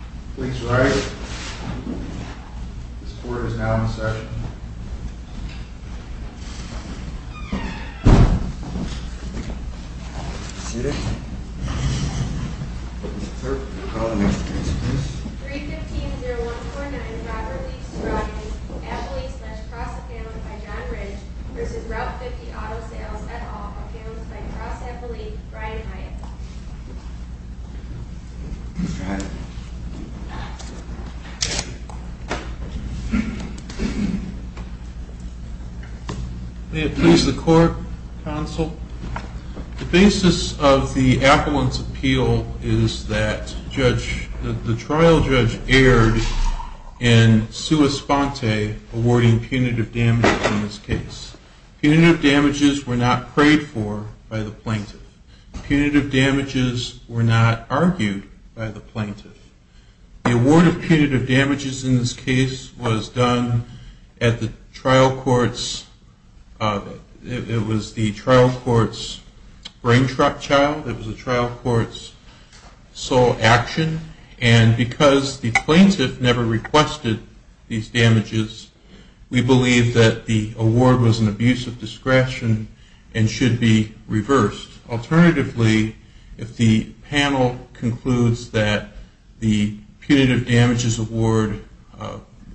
315-0149 Robert Leakes-Scroggins, Apple Leafs-Cross Apparel by John Ridge v. Route 50 Auto Sales at All, Apparel by Cross Apple Leafs, Brian Hyatt May it please the court, counsel. The basis of the appellant's appeal is that the trial judge erred in sua sponte, awarding punitive damages in this case. Punitive damages were not prayed for by the plaintiff. Punitive damages were not argued by the plaintiff. The award of punitive damages in this case was done at the trial court's brain child, it was the trial court's sole action. And because the plaintiff never requested these damages, we believe that the award was an abuse of discretion and should be reversed. Alternatively, if the panel concludes that the punitive damages award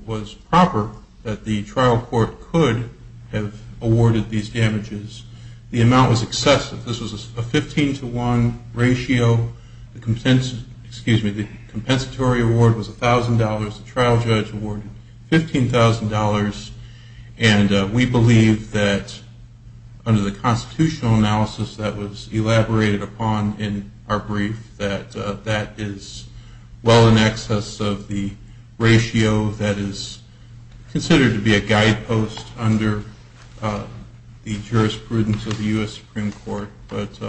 was proper, that the trial court could have awarded these damages, the amount was excessive. This was a 15-to-1 ratio. The compensatory award was $1,000. The trial judge awarded $15,000. And we believe that under the constitutional analysis that was elaborated upon in our brief, that that is well in excess of the ratio that is considered to be a guidepost under the jurisprudence of the U.S. Supreme Court. But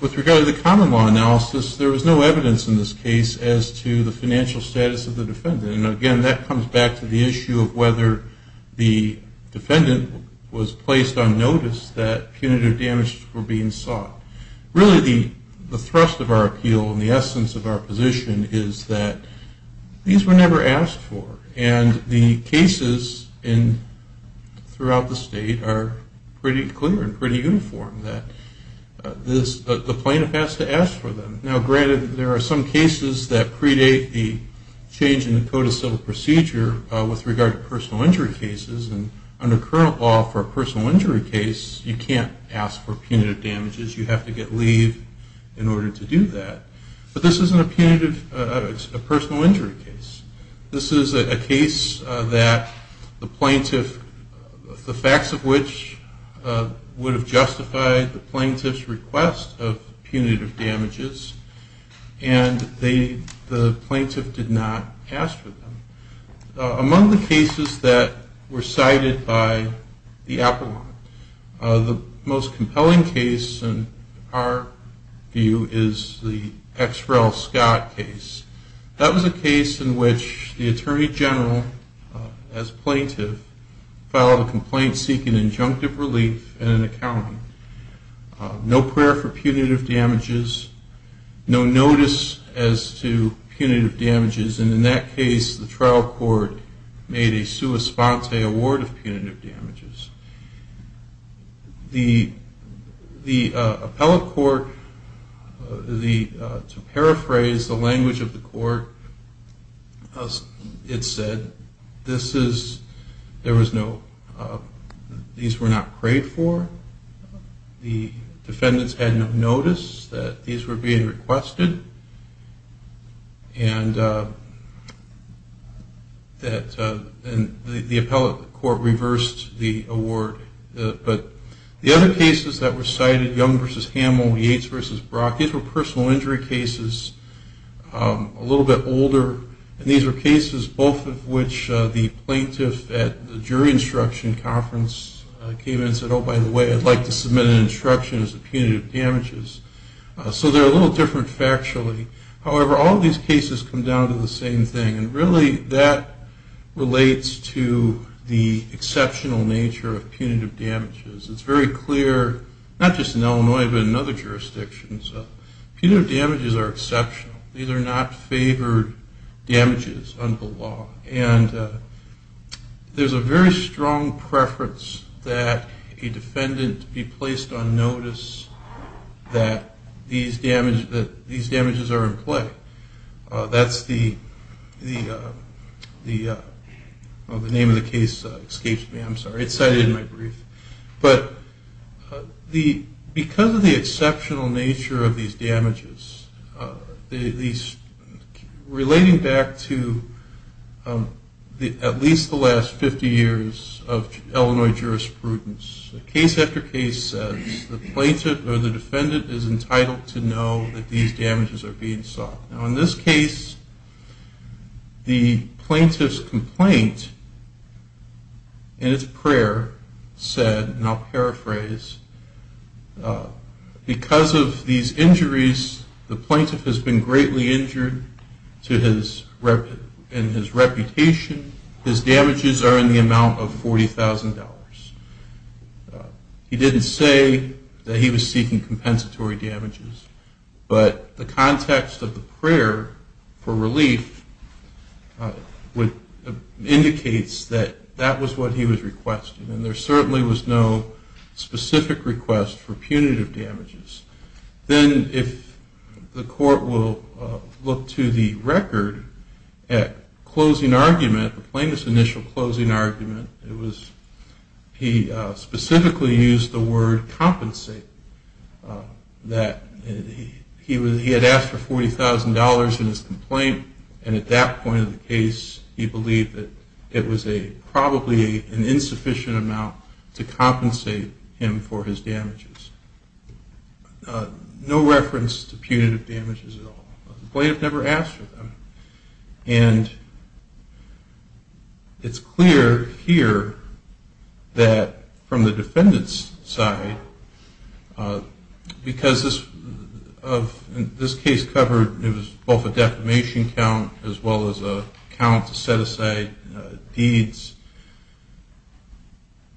with regard to the common law analysis, there was no evidence in this case as to the financial status of the defendant. And again, that comes back to the issue of whether the defendant was placed on notice that punitive damages were being sought. Really, the thrust of our appeal and the essence of our position is that these were never asked for. And the cases throughout the state are pretty clear and pretty uniform that the plaintiff has to ask for them. Now, granted, there are some cases that predate the change in the Code of Civil Procedure with regard to personal injury cases. And under current law, for a personal injury case, you can't ask for punitive damages. You have to get leave in order to do that. But this isn't a personal injury case. This is a case that the plaintiff, the facts of which would have justified the plaintiff's request of punitive damages, and the plaintiff did not ask for them. Among the cases that were cited by the Apollo, the most compelling case in our view is the X. Rel. Scott case. That was a case in which the Attorney General, as plaintiff, filed a complaint seeking injunctive relief and an accounting. No prayer for punitive damages, no notice as to punitive damages, and in that case the trial court made a sua sponte award of punitive damages. The appellate court, to paraphrase the language of the court, it said these were not prayed for, the defendants had no notice that these were being requested, and the appellate court reversed the award of punitive damages. But the other cases that were cited, Young v. Hamill, Yates v. Brock, these were personal injury cases, a little bit older, and these were cases both of which the plaintiff at the jury instruction conference came in and said, oh, by the way, I'd like to submit an instruction as to punitive damages. So they're a little different factually. However, all of these cases come down to the same thing, and really that relates to the exceptional nature of punitive damages. It's very clear, not just in Illinois but in other jurisdictions, punitive damages are exceptional. These are not favored damages under the law, and there's a very strong preference that a defendant be placed on notice that these damages are in play. That's the name of the case that escapes me, I'm sorry. It's cited in my brief. But because of the exceptional nature of these damages, relating back to at least the last 50 years of Illinois jurisprudence, case after case says the plaintiff or the defendant is entitled to know that these damages are being sought. Now in this case, the plaintiff's complaint in its prayer said, and I'll paraphrase, because of these injuries, the plaintiff has been greatly injured in his reputation. His damages are in the amount of $40,000. He didn't say that he was seeking compensatory damages, but the context of the prayer for relief indicates that that was what he was requesting, and there certainly was no specific request for punitive damages. Then if the court will look to the record at closing argument, the plaintiff's initial closing argument, he specifically used the word compensate. He had asked for $40,000 in his complaint, and at that point in the case he believed that it was probably an insufficient amount to compensate him for his damages. No reference to punitive damages at all. The plaintiff never asked for them. And it's clear here that from the defendant's side, because this case covered both a defamation count as well as a count to set aside deeds,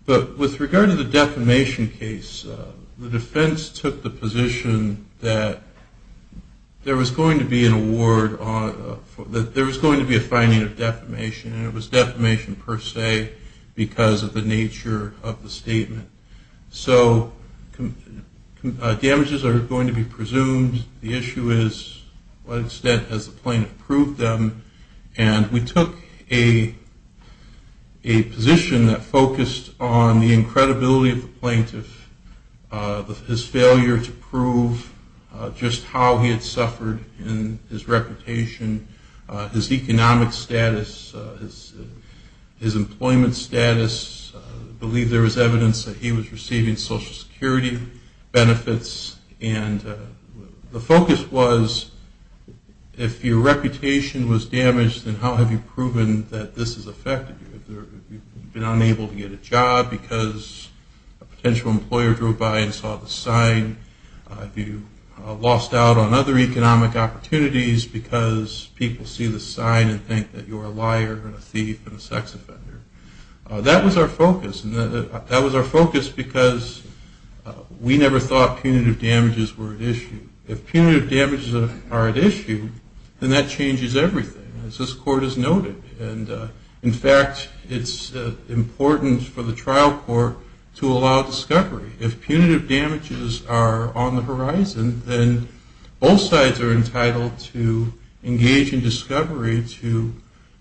but with regard to the defamation case, the defense took the position that there was going to be a finding of defamation, and it was defamation per se because of the nature of the statement. So damages are going to be presumed. The issue is to what extent has the plaintiff proved them, and we took a position that focused on the incredibility of the plaintiff, his failure to prove just how he had suffered in his reputation, his economic status, his employment status. I believe there was evidence that he was receiving Social Security benefits, and the focus was if your reputation was damaged, then how have you proven that this has affected you? Have you been unable to get a job because a potential employer drove by and saw the sign? Have you lost out on other economic opportunities because people see the sign and think that you're a liar and a thief and a sex offender? That was our focus, and that was our focus because we never thought punitive damages were at issue. If punitive damages are at issue, then that changes everything, as this Court has noted. And in fact, it's important for the trial court to allow discovery. If punitive damages are on the horizon, then both sides are entitled to engage in discovery to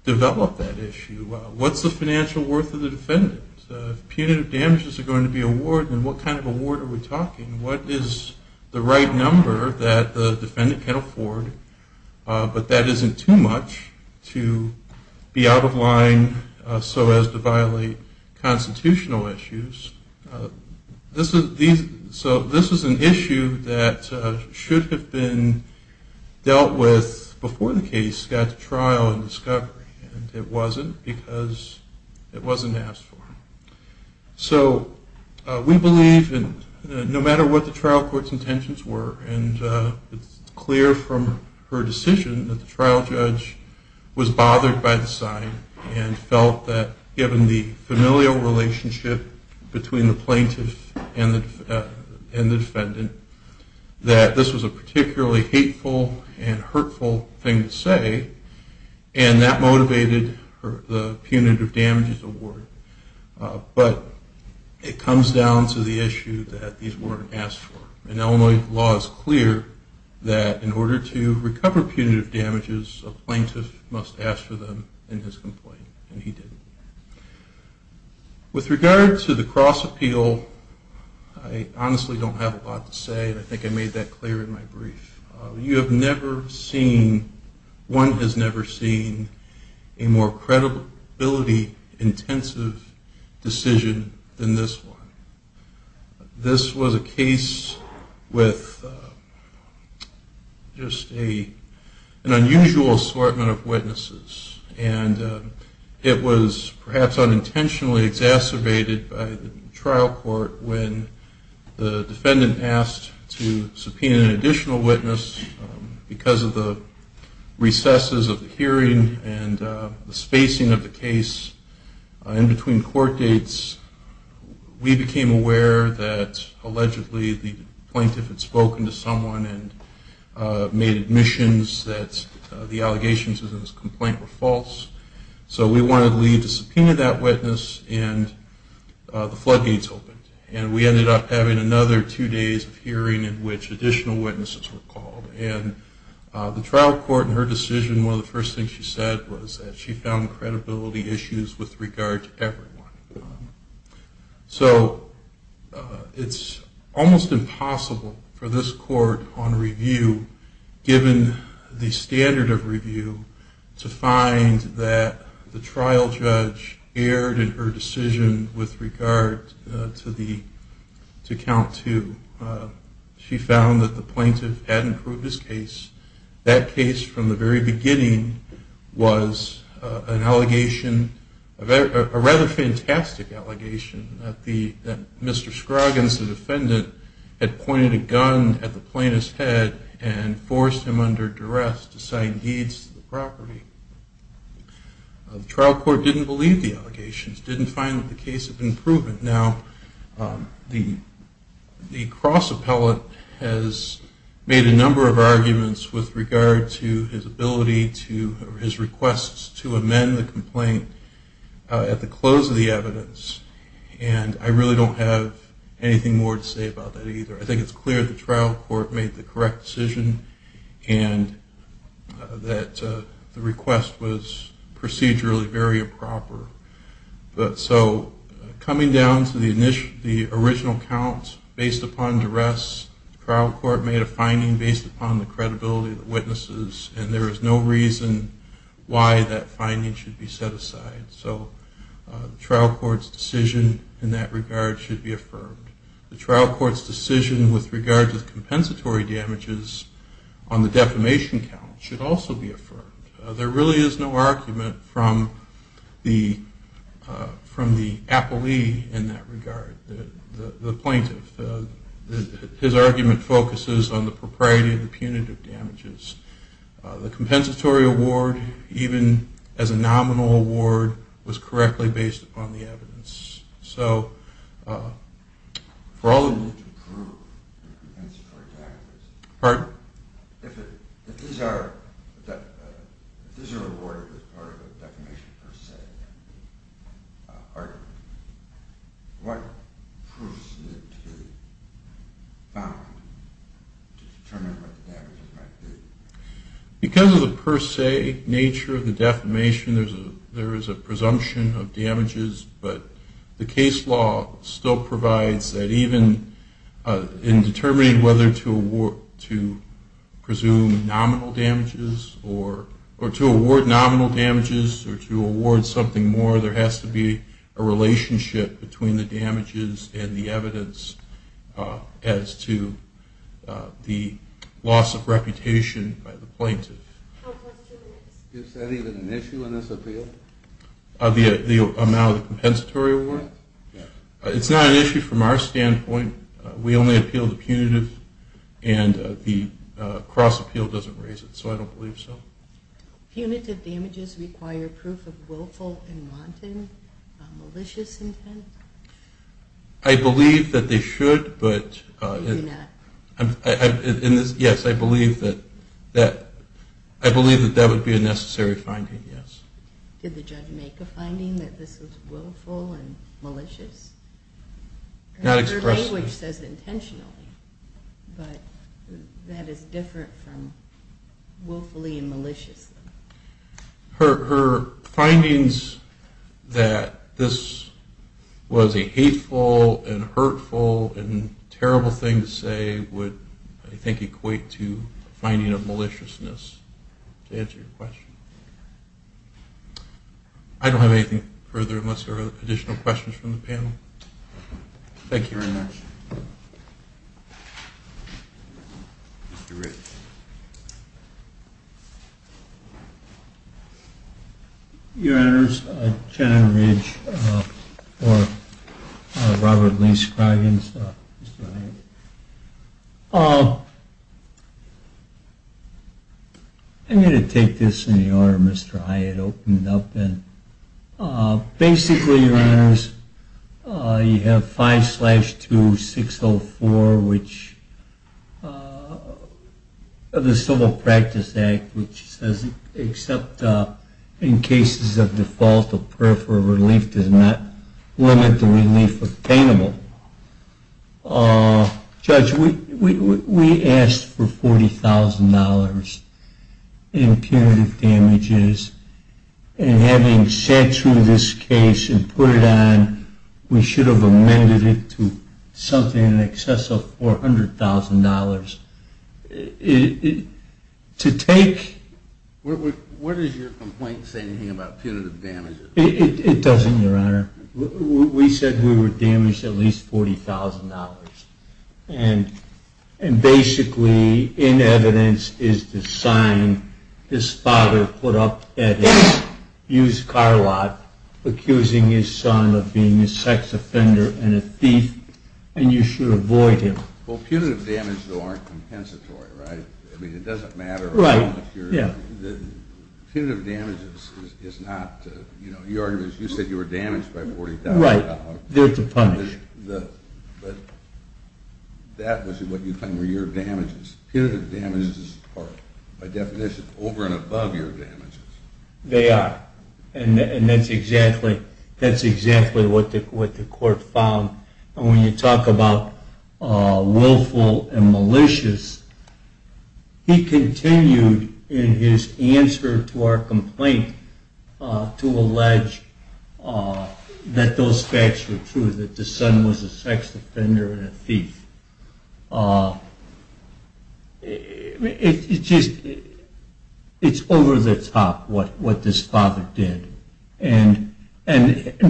develop that issue. What's the financial worth of the defendant? If punitive damages are going to be awarded, then what kind of award are we talking? What is the right number that the defendant can afford, but that isn't too much to be out of line so as to violate constitutional issues? So this is an issue that should have been dealt with before the case got to trial and discovery, and it wasn't because it wasn't asked for. So we believe that no matter what the trial court's intentions were, and it's clear from her decision that the trial judge was bothered by the sign and felt that given the familial relationship between the plaintiff and the defendant, that this was a particularly hateful and hurtful thing to say, and that motivated the punitive damages award. But it comes down to the issue that these weren't asked for, and Illinois law is clear that in order to recover punitive damages, a plaintiff must ask for them in his complaint, and he didn't. With regard to the cross-appeal, I honestly don't have a lot to say, and I think I made that clear in my brief. You have never seen, one has never seen a more credibility-intensive decision than this one. This was a case with just an unusual assortment of witnesses, and it was perhaps unintentionally exacerbated by the trial court when the defendant asked to subpoena an additional witness because of the recesses of the hearing and the spacing of the case in between court dates. We became aware that allegedly the plaintiff had spoken to someone and made admissions that the allegations in this complaint were false, so we wanted Lee to subpoena that witness, and the floodgates opened, and we ended up having another two days of hearing in which additional witnesses were called. The trial court in her decision, one of the first things she said was that she found credibility issues with regard to everyone. So it's almost impossible for this court on review, given the standard of review, to find that the trial judge erred in her decision with regard to count two. She found that the plaintiff had improved his case. That case from the very beginning was an allegation, a rather fantastic allegation, that Mr. Scroggins, the defendant, had pointed a gun at the plaintiff's head and forced him under duress to sign deeds to the property. The trial court didn't believe the allegations, didn't find that the case had been proven. Now, the cross appellate has made a number of arguments with regard to his ability to, or his requests to amend the complaint at the close of the evidence, and I really don't have anything more to say about that either. I think it's clear the trial court made the correct decision and that the request was procedurally very improper. So coming down to the original count, based upon duress, the trial court made a finding based upon the credibility of the witnesses, and there is no reason why that finding should be set aside. So the trial court's decision in that regard should be affirmed. The trial court's decision with regard to the compensatory damages on the defamation count should also be affirmed. There really is no argument from the appellee in that regard, the plaintiff. His argument focuses on the propriety of the punitive damages. The compensatory award, even as a nominal award, was correctly based upon the evidence. So for all the need to prove the compensatory damages, if these are awarded as part of a defamation per se argument, what proofs need to be found to determine what the damages might be? Because of the per se nature of the defamation, there is a presumption of damages, but the case law still provides that even in determining whether to presume nominal damages or to award nominal damages or to award something more, there has to be a relationship between the damages and the evidence as to the loss of reputation. Is that even an issue in this appeal? The amount of the compensatory award? It's not an issue from our standpoint. We only appeal the punitive and the cross appeal doesn't raise it, so I don't believe so. Punitive damages require proof of willful and wanton malicious intent? I believe that they should, but I believe that that would be a necessary finding, yes. Did the judge make a finding that this was willful and malicious? Her language says intentionally, but that is different from willfully and maliciously. Her findings that this was a hateful and hurtful and terrible thing to say would, I think, equate to a finding of maliciousness, to answer your question. I don't have anything further unless there are additional questions from the panel. Thank you very much. Mr. Ridge. Your Honors, Jenna Ridge for Robert Lee Scroggins, Mr. Hyatt. I'm going to take this in the order Mr. Hyatt opened up in. Basically, Your Honors, you have 5-2604, the Civil Practice Act, which says except in cases of default, a prayer for relief does not limit the relief obtainable. Judge, we asked for $40,000 in punitive damages, and having sat through this case and put it on, we should have amended it to something in excess of $400,000. What does your complaint say about punitive damages? It doesn't, Your Honor. We said we would damage at least $40,000, and basically, in evidence, is the sign this father put up at his used car lot, accusing his son of being a sex offender and a thief, and you should avoid him. Well, punitive damages aren't compensatory, right? It doesn't matter. Punitive damages, you said you were damaged by $40,000. Right, there to punish. That was what you claimed were your damages. Punitive damages are, by definition, over and above your damages. They are, and that's exactly what the court found, and when you talk about willful and malicious, he continued in his answer to our complaint to allege that those facts were true, that the son was a sex offender and a thief. It's just, it's over the top what this father did, and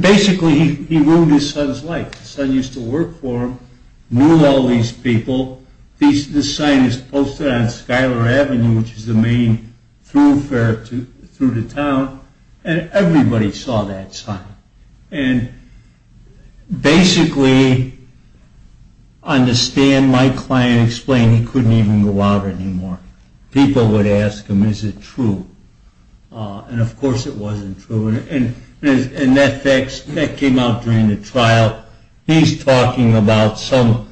basically, he ruined his son's life. His son used to work for him, knew all these people. This sign is posted on Schuyler Avenue, which is the main thoroughfare through the town, and everybody saw that sign. And basically, on the stand, my client explained he couldn't even go out anymore. People would ask him, is it true, and of course it wasn't true, and that came out during the trial. He's talking about some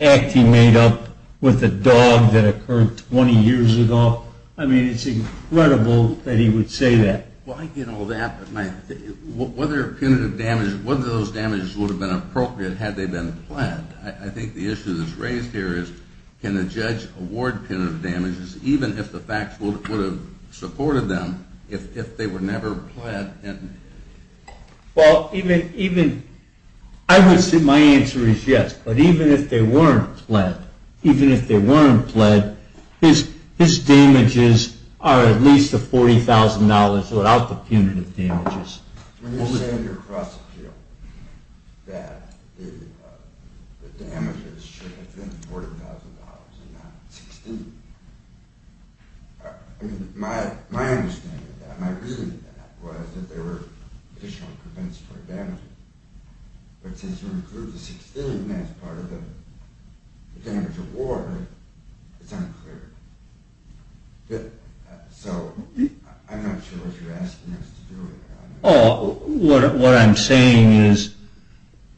act he made up with a dog that occurred 20 years ago. I mean, it's incredible that he would say that. Well, I get all that, but whether punitive damages, whether those damages would have been appropriate had they been pled, I think the issue that's raised here is can the judge award punitive damages even if the facts would have supported them if they were never pled? Well, I would say my answer is yes, but even if they weren't pled, his damages are at least $40,000 without the punitive damages. When you say in your cross appeal that the damages should have been $40,000 and not $16,000, I mean, my understanding of that, my reading of that was that there were additional compensatory damages. But since you include the $16,000 as part of the damage award, it's unclear. So I'm not sure what you're asking us to do with that. Oh, what I'm saying is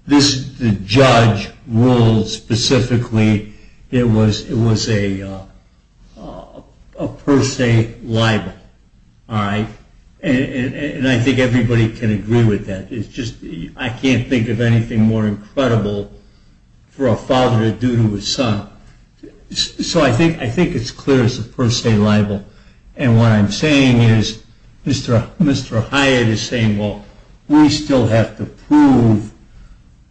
the judge ruled specifically it was a per se libel, all right? And I think everybody can agree with that. It's just I can't think of anything more incredible for a father to do to his son. So I think it's clear it's a per se libel. And what I'm saying is Mr. Hyatt is saying, well, we still have to prove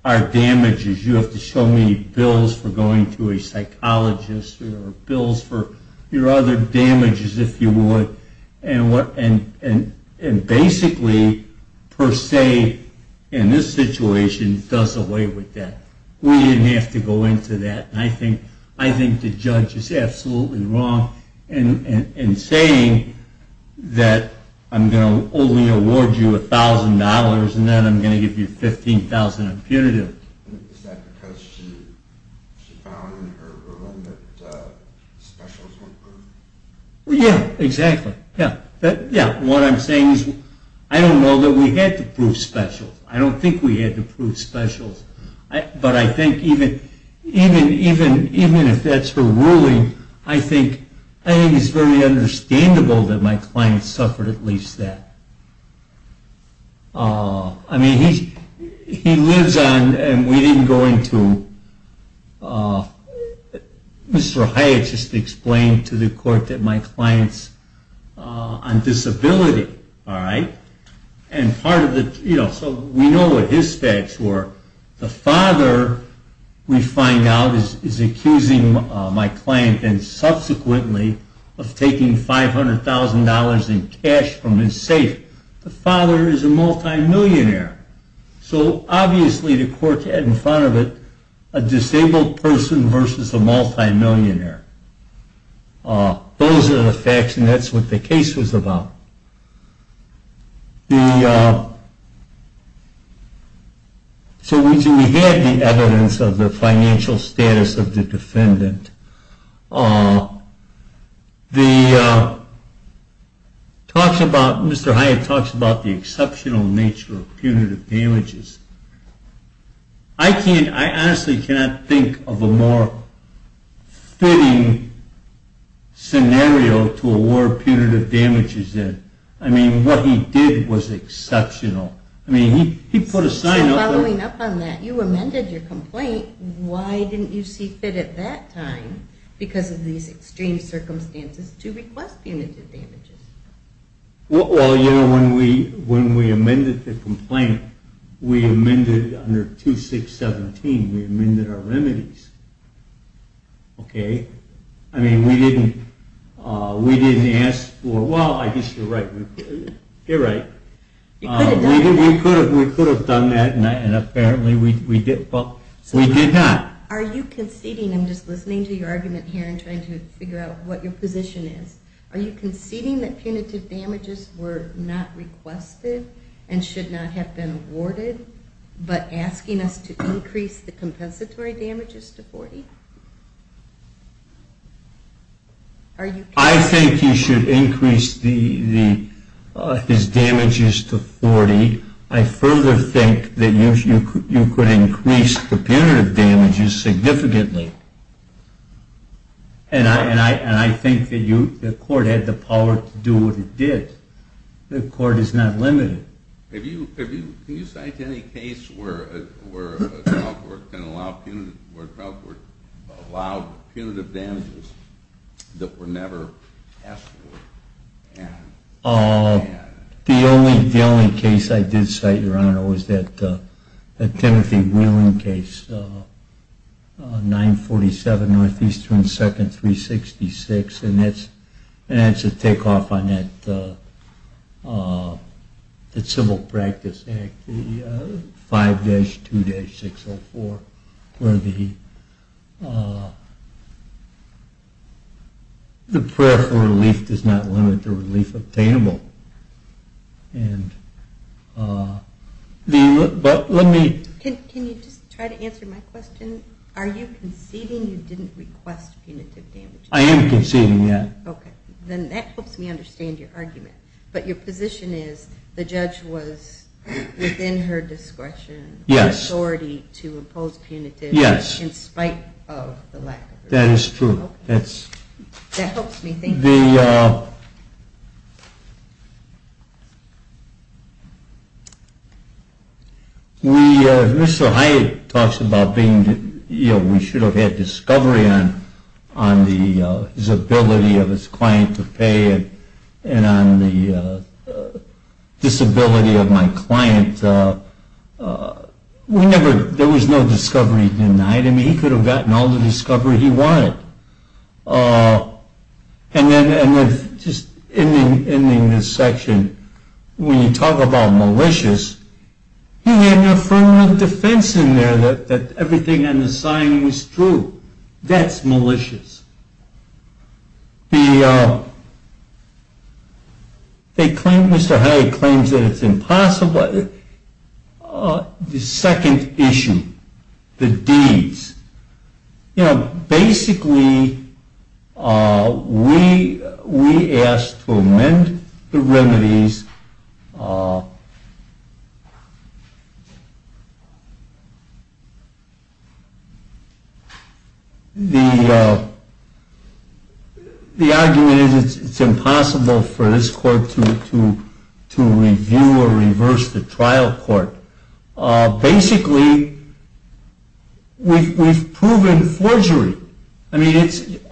our damages. You have to show me bills for going to a psychologist or bills for your other damages, if you would. And basically per se in this situation does away with that. We didn't have to go into that. And I think the judge is absolutely wrong in saying that I'm going to only award you $1,000 and then I'm going to give you $15,000 impunitive. Is that because she found in her room that specials weren't proved? Yeah, exactly. Yeah, what I'm saying is I don't know that we had to prove specials. I don't think we had to prove specials. But I think even if that's her ruling, I think it's very understandable that my client suffered at least that. I mean, he lives on and we didn't go into him. Mr. Hyatt just explained to the court that my client's on disability, all right? So we know what his facts were. The father, we find out, is accusing my client and subsequently of taking $500,000 in cash from his safe. The father is a multimillionaire. So obviously the court had in front of it a disabled person versus a multimillionaire. Those are the facts and that's what the case was about. So we had the evidence of the financial status of the defendant. Mr. Hyatt talks about the exceptional nature of punitive damages. I honestly cannot think of a more fitting scenario to award punitive damages in. I mean, what he did was exceptional. I mean, he put a sign up. Following up on that, you amended your complaint. Why didn't you see fit at that time because of these extreme circumstances to request punitive damages? Well, you know, when we amended the complaint, we amended under 2617, we amended our remedies, okay? I mean, we didn't ask for, well, I guess you're right. You're right. We could have done that and apparently we did, but we did not. Are you conceding, I'm just listening to your argument here and trying to figure out what your position is. Are you conceding that punitive damages were not requested and should not have been awarded, but asking us to increase the compensatory damages to 40? I think you should increase his damages to 40. I further think that you could increase the punitive damages significantly. And I think the court had the power to do what it did. The court is not limited. Can you cite any case where the trial court allowed punitive damages that were never asked for? The only case I did cite, Your Honor, was that Timothy Wheeling case, 947 Northeastern 2nd, 366, and that's a takeoff on that Civil Practice Act, 5-2-604, where the prayer for relief does not limit the relief obtainable. Can you just try to answer my question? Are you conceding you didn't request punitive damages? I am conceding that. Okay. Then that helps me understand your argument. But your position is the judge was within her discretion and authority to impose punitive in spite of the lack of relief. That is true. That helps me think. Mr. Hyatt talks about we should have had discovery on his ability of his client to pay and on the disability of my client. There was no discovery denied. I mean, he could have gotten all the discovery he wanted. And just ending this section, when you talk about malicious, he had an affirmative defense in there that everything in the signing was true. That's malicious. Mr. Hyatt claims that it's impossible. The second issue, the deeds, you know, basically we asked to amend the remedies. The argument is it's impossible for this court to review or reverse the trial court. Basically, we've proven forgery. I mean,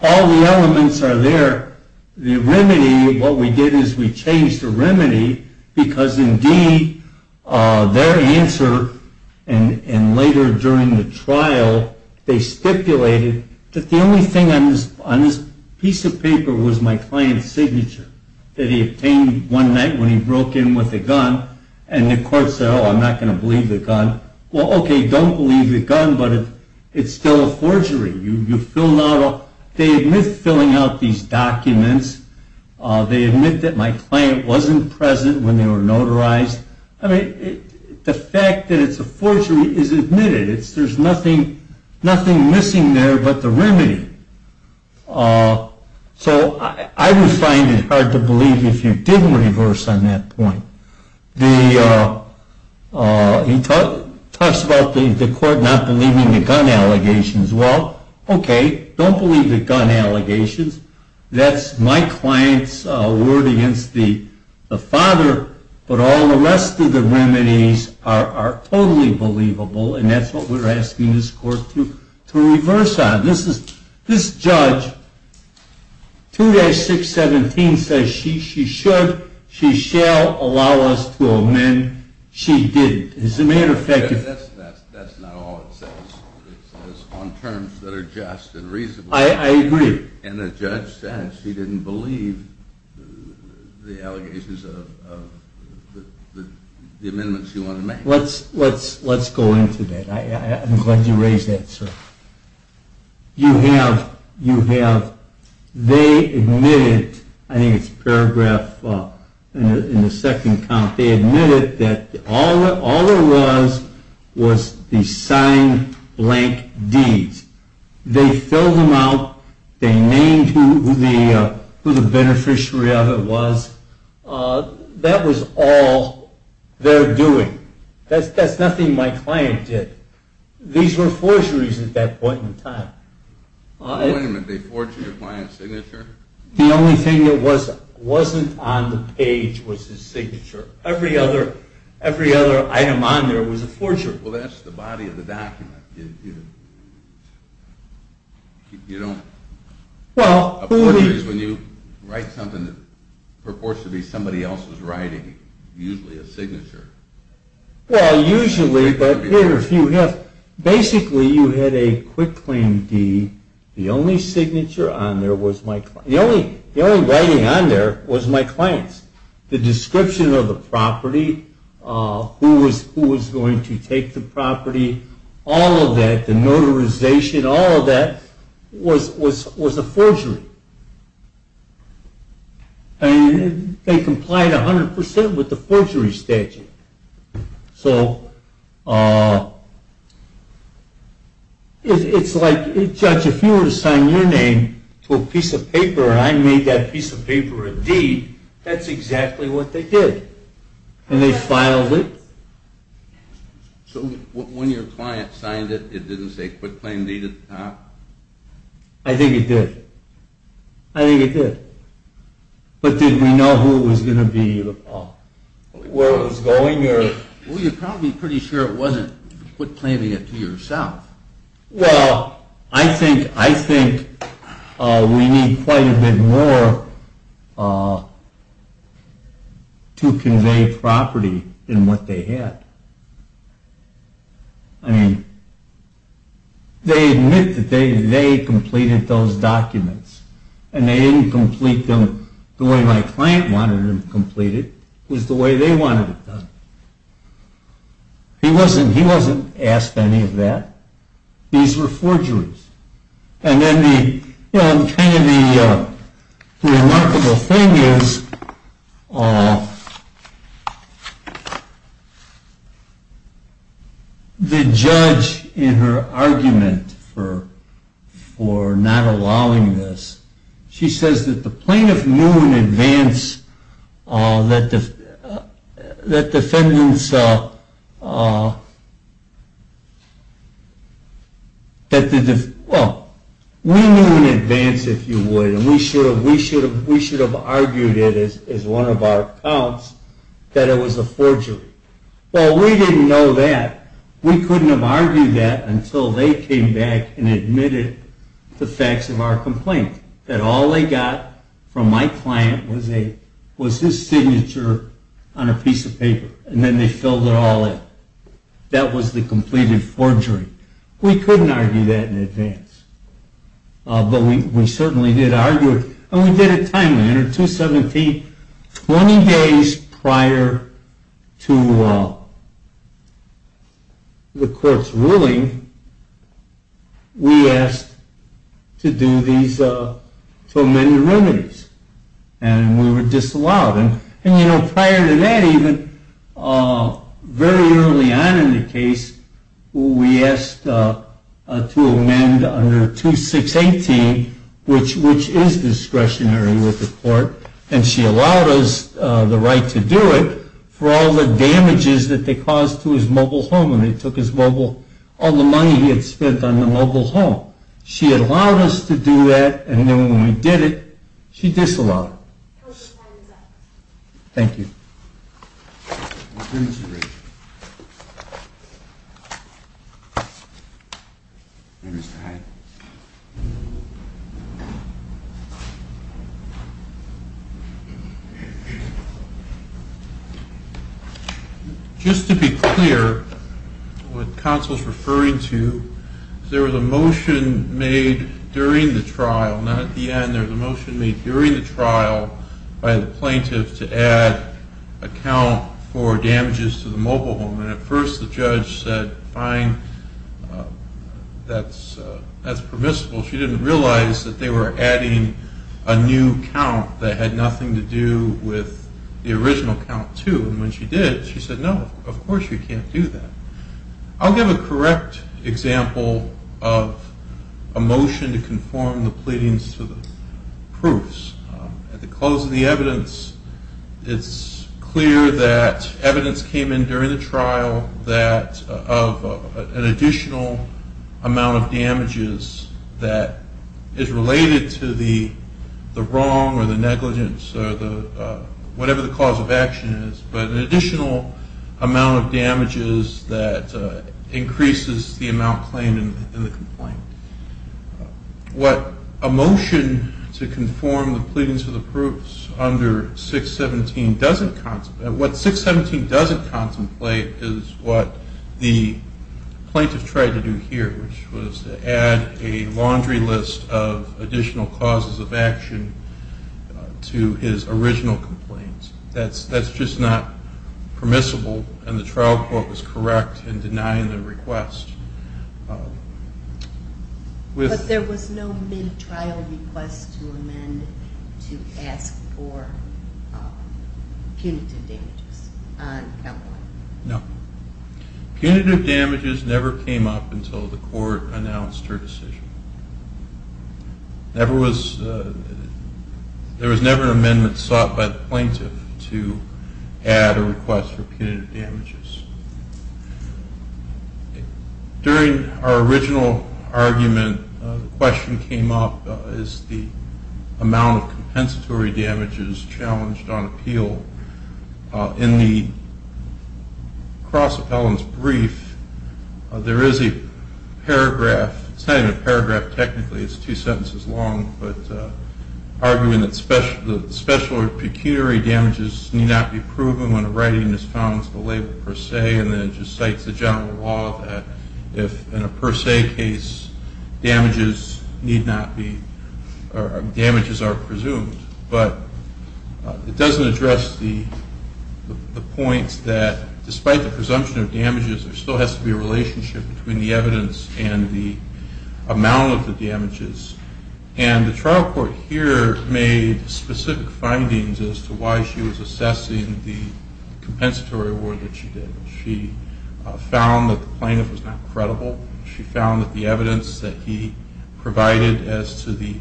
all the elements are there. The remedy, what we did is we changed the remedy because, indeed, their answer and later during the trial, they stipulated that the only thing on this piece of paper was my client's signature that he obtained one night when he broke in with a gun. And the court said, oh, I'm not going to believe the gun. Well, okay, don't believe the gun, but it's still a forgery. They admit filling out these documents. They admit that my client wasn't present when they were notarized. I mean, the fact that it's a forgery is admitted. There's nothing missing there but the remedy. So I would find it hard to believe if you didn't reverse on that point. He talks about the court not believing the gun allegations. Well, okay, don't believe the gun allegations. That's my client's word against the father, but all the rest of the remedies are totally believable, and that's what we're asking this court to reverse on. This judge, 2-617, says she should, she shall allow us to amend, she didn't. That's not all it says. It says on terms that are just and reasonable. I agree. And the judge says she didn't believe the allegations of the amendments you want to make. Let's go into that. I'm glad you raised that, sir. You have, they admitted, I think it's paragraph in the second count, they admitted that all there was was the signed blank deeds. They filled them out. They named who the beneficiary of it was. That was all they're doing. That's nothing my client did. These were forgeries at that point in time. Wait a minute, they forged your client's signature? The only thing that wasn't on the page was his signature. Every other item on there was a forgery. Well, that's the body of the document. You don't, a forgery is when you write something that purports to be somebody else's writing, usually a signature. Well, usually, but here if you have, basically you had a quick claim deed. The only signature on there was my client's. The only writing on there was my client's. The description of the property, who was going to take the property, all of that, the notarization, all of that was a forgery. And they complied 100% with the forgery statute. So it's like, Judge, if you were to sign your name to a piece of paper and I made that piece of paper a deed, that's exactly what they did. And they filed it. So when your client signed it, it didn't say quick claim deed at the top? I think it did. I think it did. But did we know who it was going to be, where it was going? Well, you're probably pretty sure it wasn't quick claim deed to yourself. Well, I think we need quite a bit more to convey property than what they had. I mean, they admit that they completed those documents. And they didn't complete them the way my client wanted them completed. It was the way they wanted it done. He wasn't asked any of that. These were forgeries. And then the remarkable thing is the judge in her argument for not allowing this, she says that the plaintiff knew in advance that the defendant's, well, we knew in advance, if you would, and we should have argued it as one of our accounts, that it was a forgery. Well, we didn't know that. We couldn't have argued that until they came back and admitted the facts of our complaint, that all they got from my client was his signature on a piece of paper. And then they filled it all in. That was the completed forgery. We couldn't argue that in advance. But we certainly did argue it. And we did it timely. Under 217, 20 days prior to the court's ruling, we asked to amend the remedies. And we were disallowed. And prior to that even, very early on in the case, we asked to amend under 2618, which is discretionary with the court. And she allowed us the right to do it for all the damages that they caused to his mobile home when they took all the money he had spent on the mobile home. She had allowed us to do that. And then when we did it, she disallowed it. Thank you. Just to be clear, what counsel is referring to, there was a motion made during the trial, not at the end. There was a motion made during the trial by the plaintiff to add a count for damages to the mobile home. And at first the judge said, fine, that's permissible. She didn't realize that they were adding a new count that had nothing to do with the original count too. And when she did, she said, no, of course you can't do that. I'll give a correct example of a motion to conform the pleadings to the proofs. At the close of the evidence, it's clear that evidence came in during the trial that of an additional amount of damages that is related to the wrong or the negligence or whatever the cause of action is, but an additional amount of damages that increases the amount claimed in the complaint. What a motion to conform the pleadings to the proofs under 617 doesn't, what 617 doesn't contemplate is what the plaintiff tried to do here, which was to add a laundry list of additional causes of action to his original complaints. That's just not permissible, and the trial court was correct in denying the request. But there was no mid-trial request to amend to ask for punitive damages? No. Punitive damages never came up until the court announced her decision. There was never an amendment sought by the plaintiff to add a request for punitive damages. During our original argument, the question came up, is the amount of compensatory damages challenged on appeal? In the cross-appellant's brief, there is a paragraph, it's not even a paragraph technically, it's two sentences long, but arguing that special or pecuniary damages need not be proven when a writing is found to label per se, and then it just cites the general law that if in a per se case damages are presumed. But it doesn't address the point that despite the presumption of damages, there still has to be a relationship between the evidence and the amount of the damages. And the trial court here made specific findings as to why she was assessing the compensatory award that she did. She found that the plaintiff was not credible. She found that the evidence that he provided as to the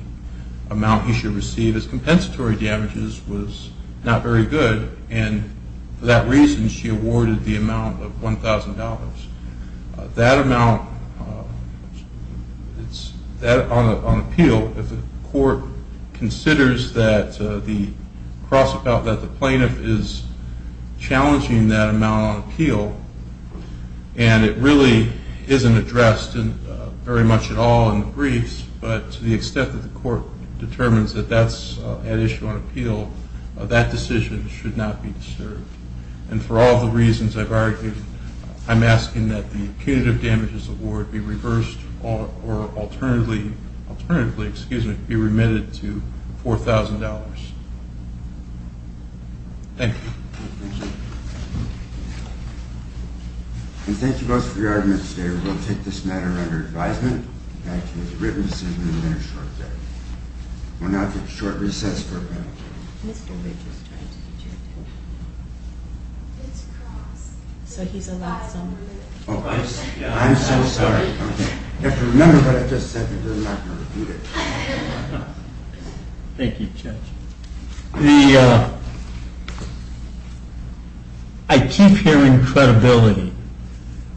amount he should receive as compensatory damages was not very good. And for that reason, she awarded the amount of $1,000. That amount on appeal, if the court considers that the plaintiff is challenging that amount on appeal, and it really isn't addressed very much at all in the briefs, but to the extent that the court determines that that's at issue on appeal, that decision should not be disturbed. And for all the reasons I've argued, I'm asking that the punitive damages award be reversed or alternatively be remitted to $4,000. Thank you. And thank you both for your arguments there. I will take this matter under advisement. In fact, it was written to send it in a very short date. Well, now if it's short recess, we're going to adjourn. So he's allowed some? I'm so sorry. You have to remember what I just said because I'm not going to repeat it. Thank you, Judge. I keep hearing credibility.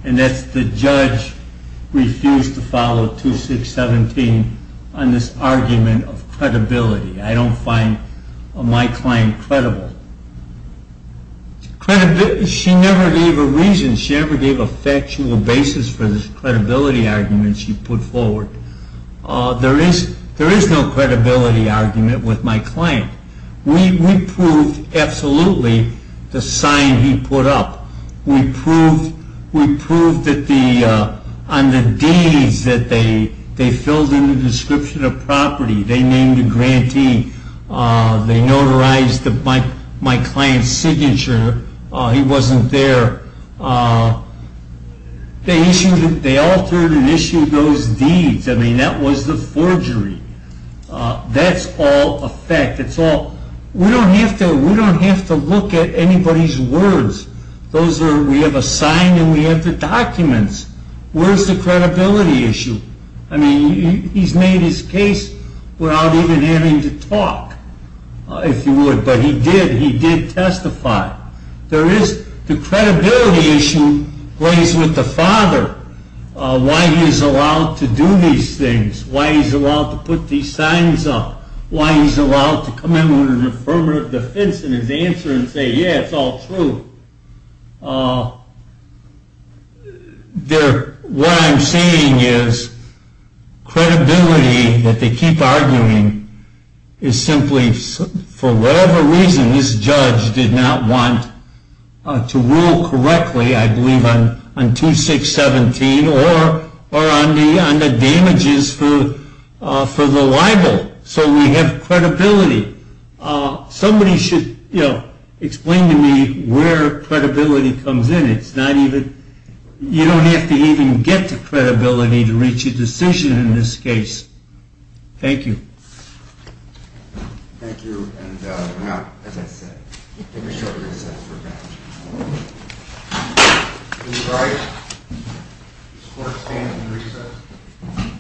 And that's the judge refused to follow 2617 on this argument of credibility. I don't find my client credible. She never gave a reason. She never gave a factual basis for this credibility argument she put forward. There is no credibility argument with my client. We proved absolutely the sign he put up. We proved on the deeds that they filled in the description of property. They named a grantee. They notarized my client's signature. He wasn't there. They altered and issued those deeds. I mean, that was the forgery. That's all a fact. We don't have to look at anybody's words. We have a sign and we have the documents. Where's the credibility issue? I mean, he's made his case without even having to talk, if you would. But he did. He did testify. The credibility issue plays with the father, why he's allowed to do these things, why he's allowed to put these signs up, why he's allowed to come in with an affirmative defense in his answer and say, yeah, it's all true. What I'm saying is credibility that they keep arguing is simply, for whatever reason this judge did not want to rule correctly, I believe, on 2617 or on the damages for the libel. So we have credibility. Somebody should explain to me where credibility comes in. You don't have to even get to credibility to reach a decision in this case. Thank you. Thank you. And now, as I said, we have a short recess. We're adjourned. Please rise. This court stands in recess.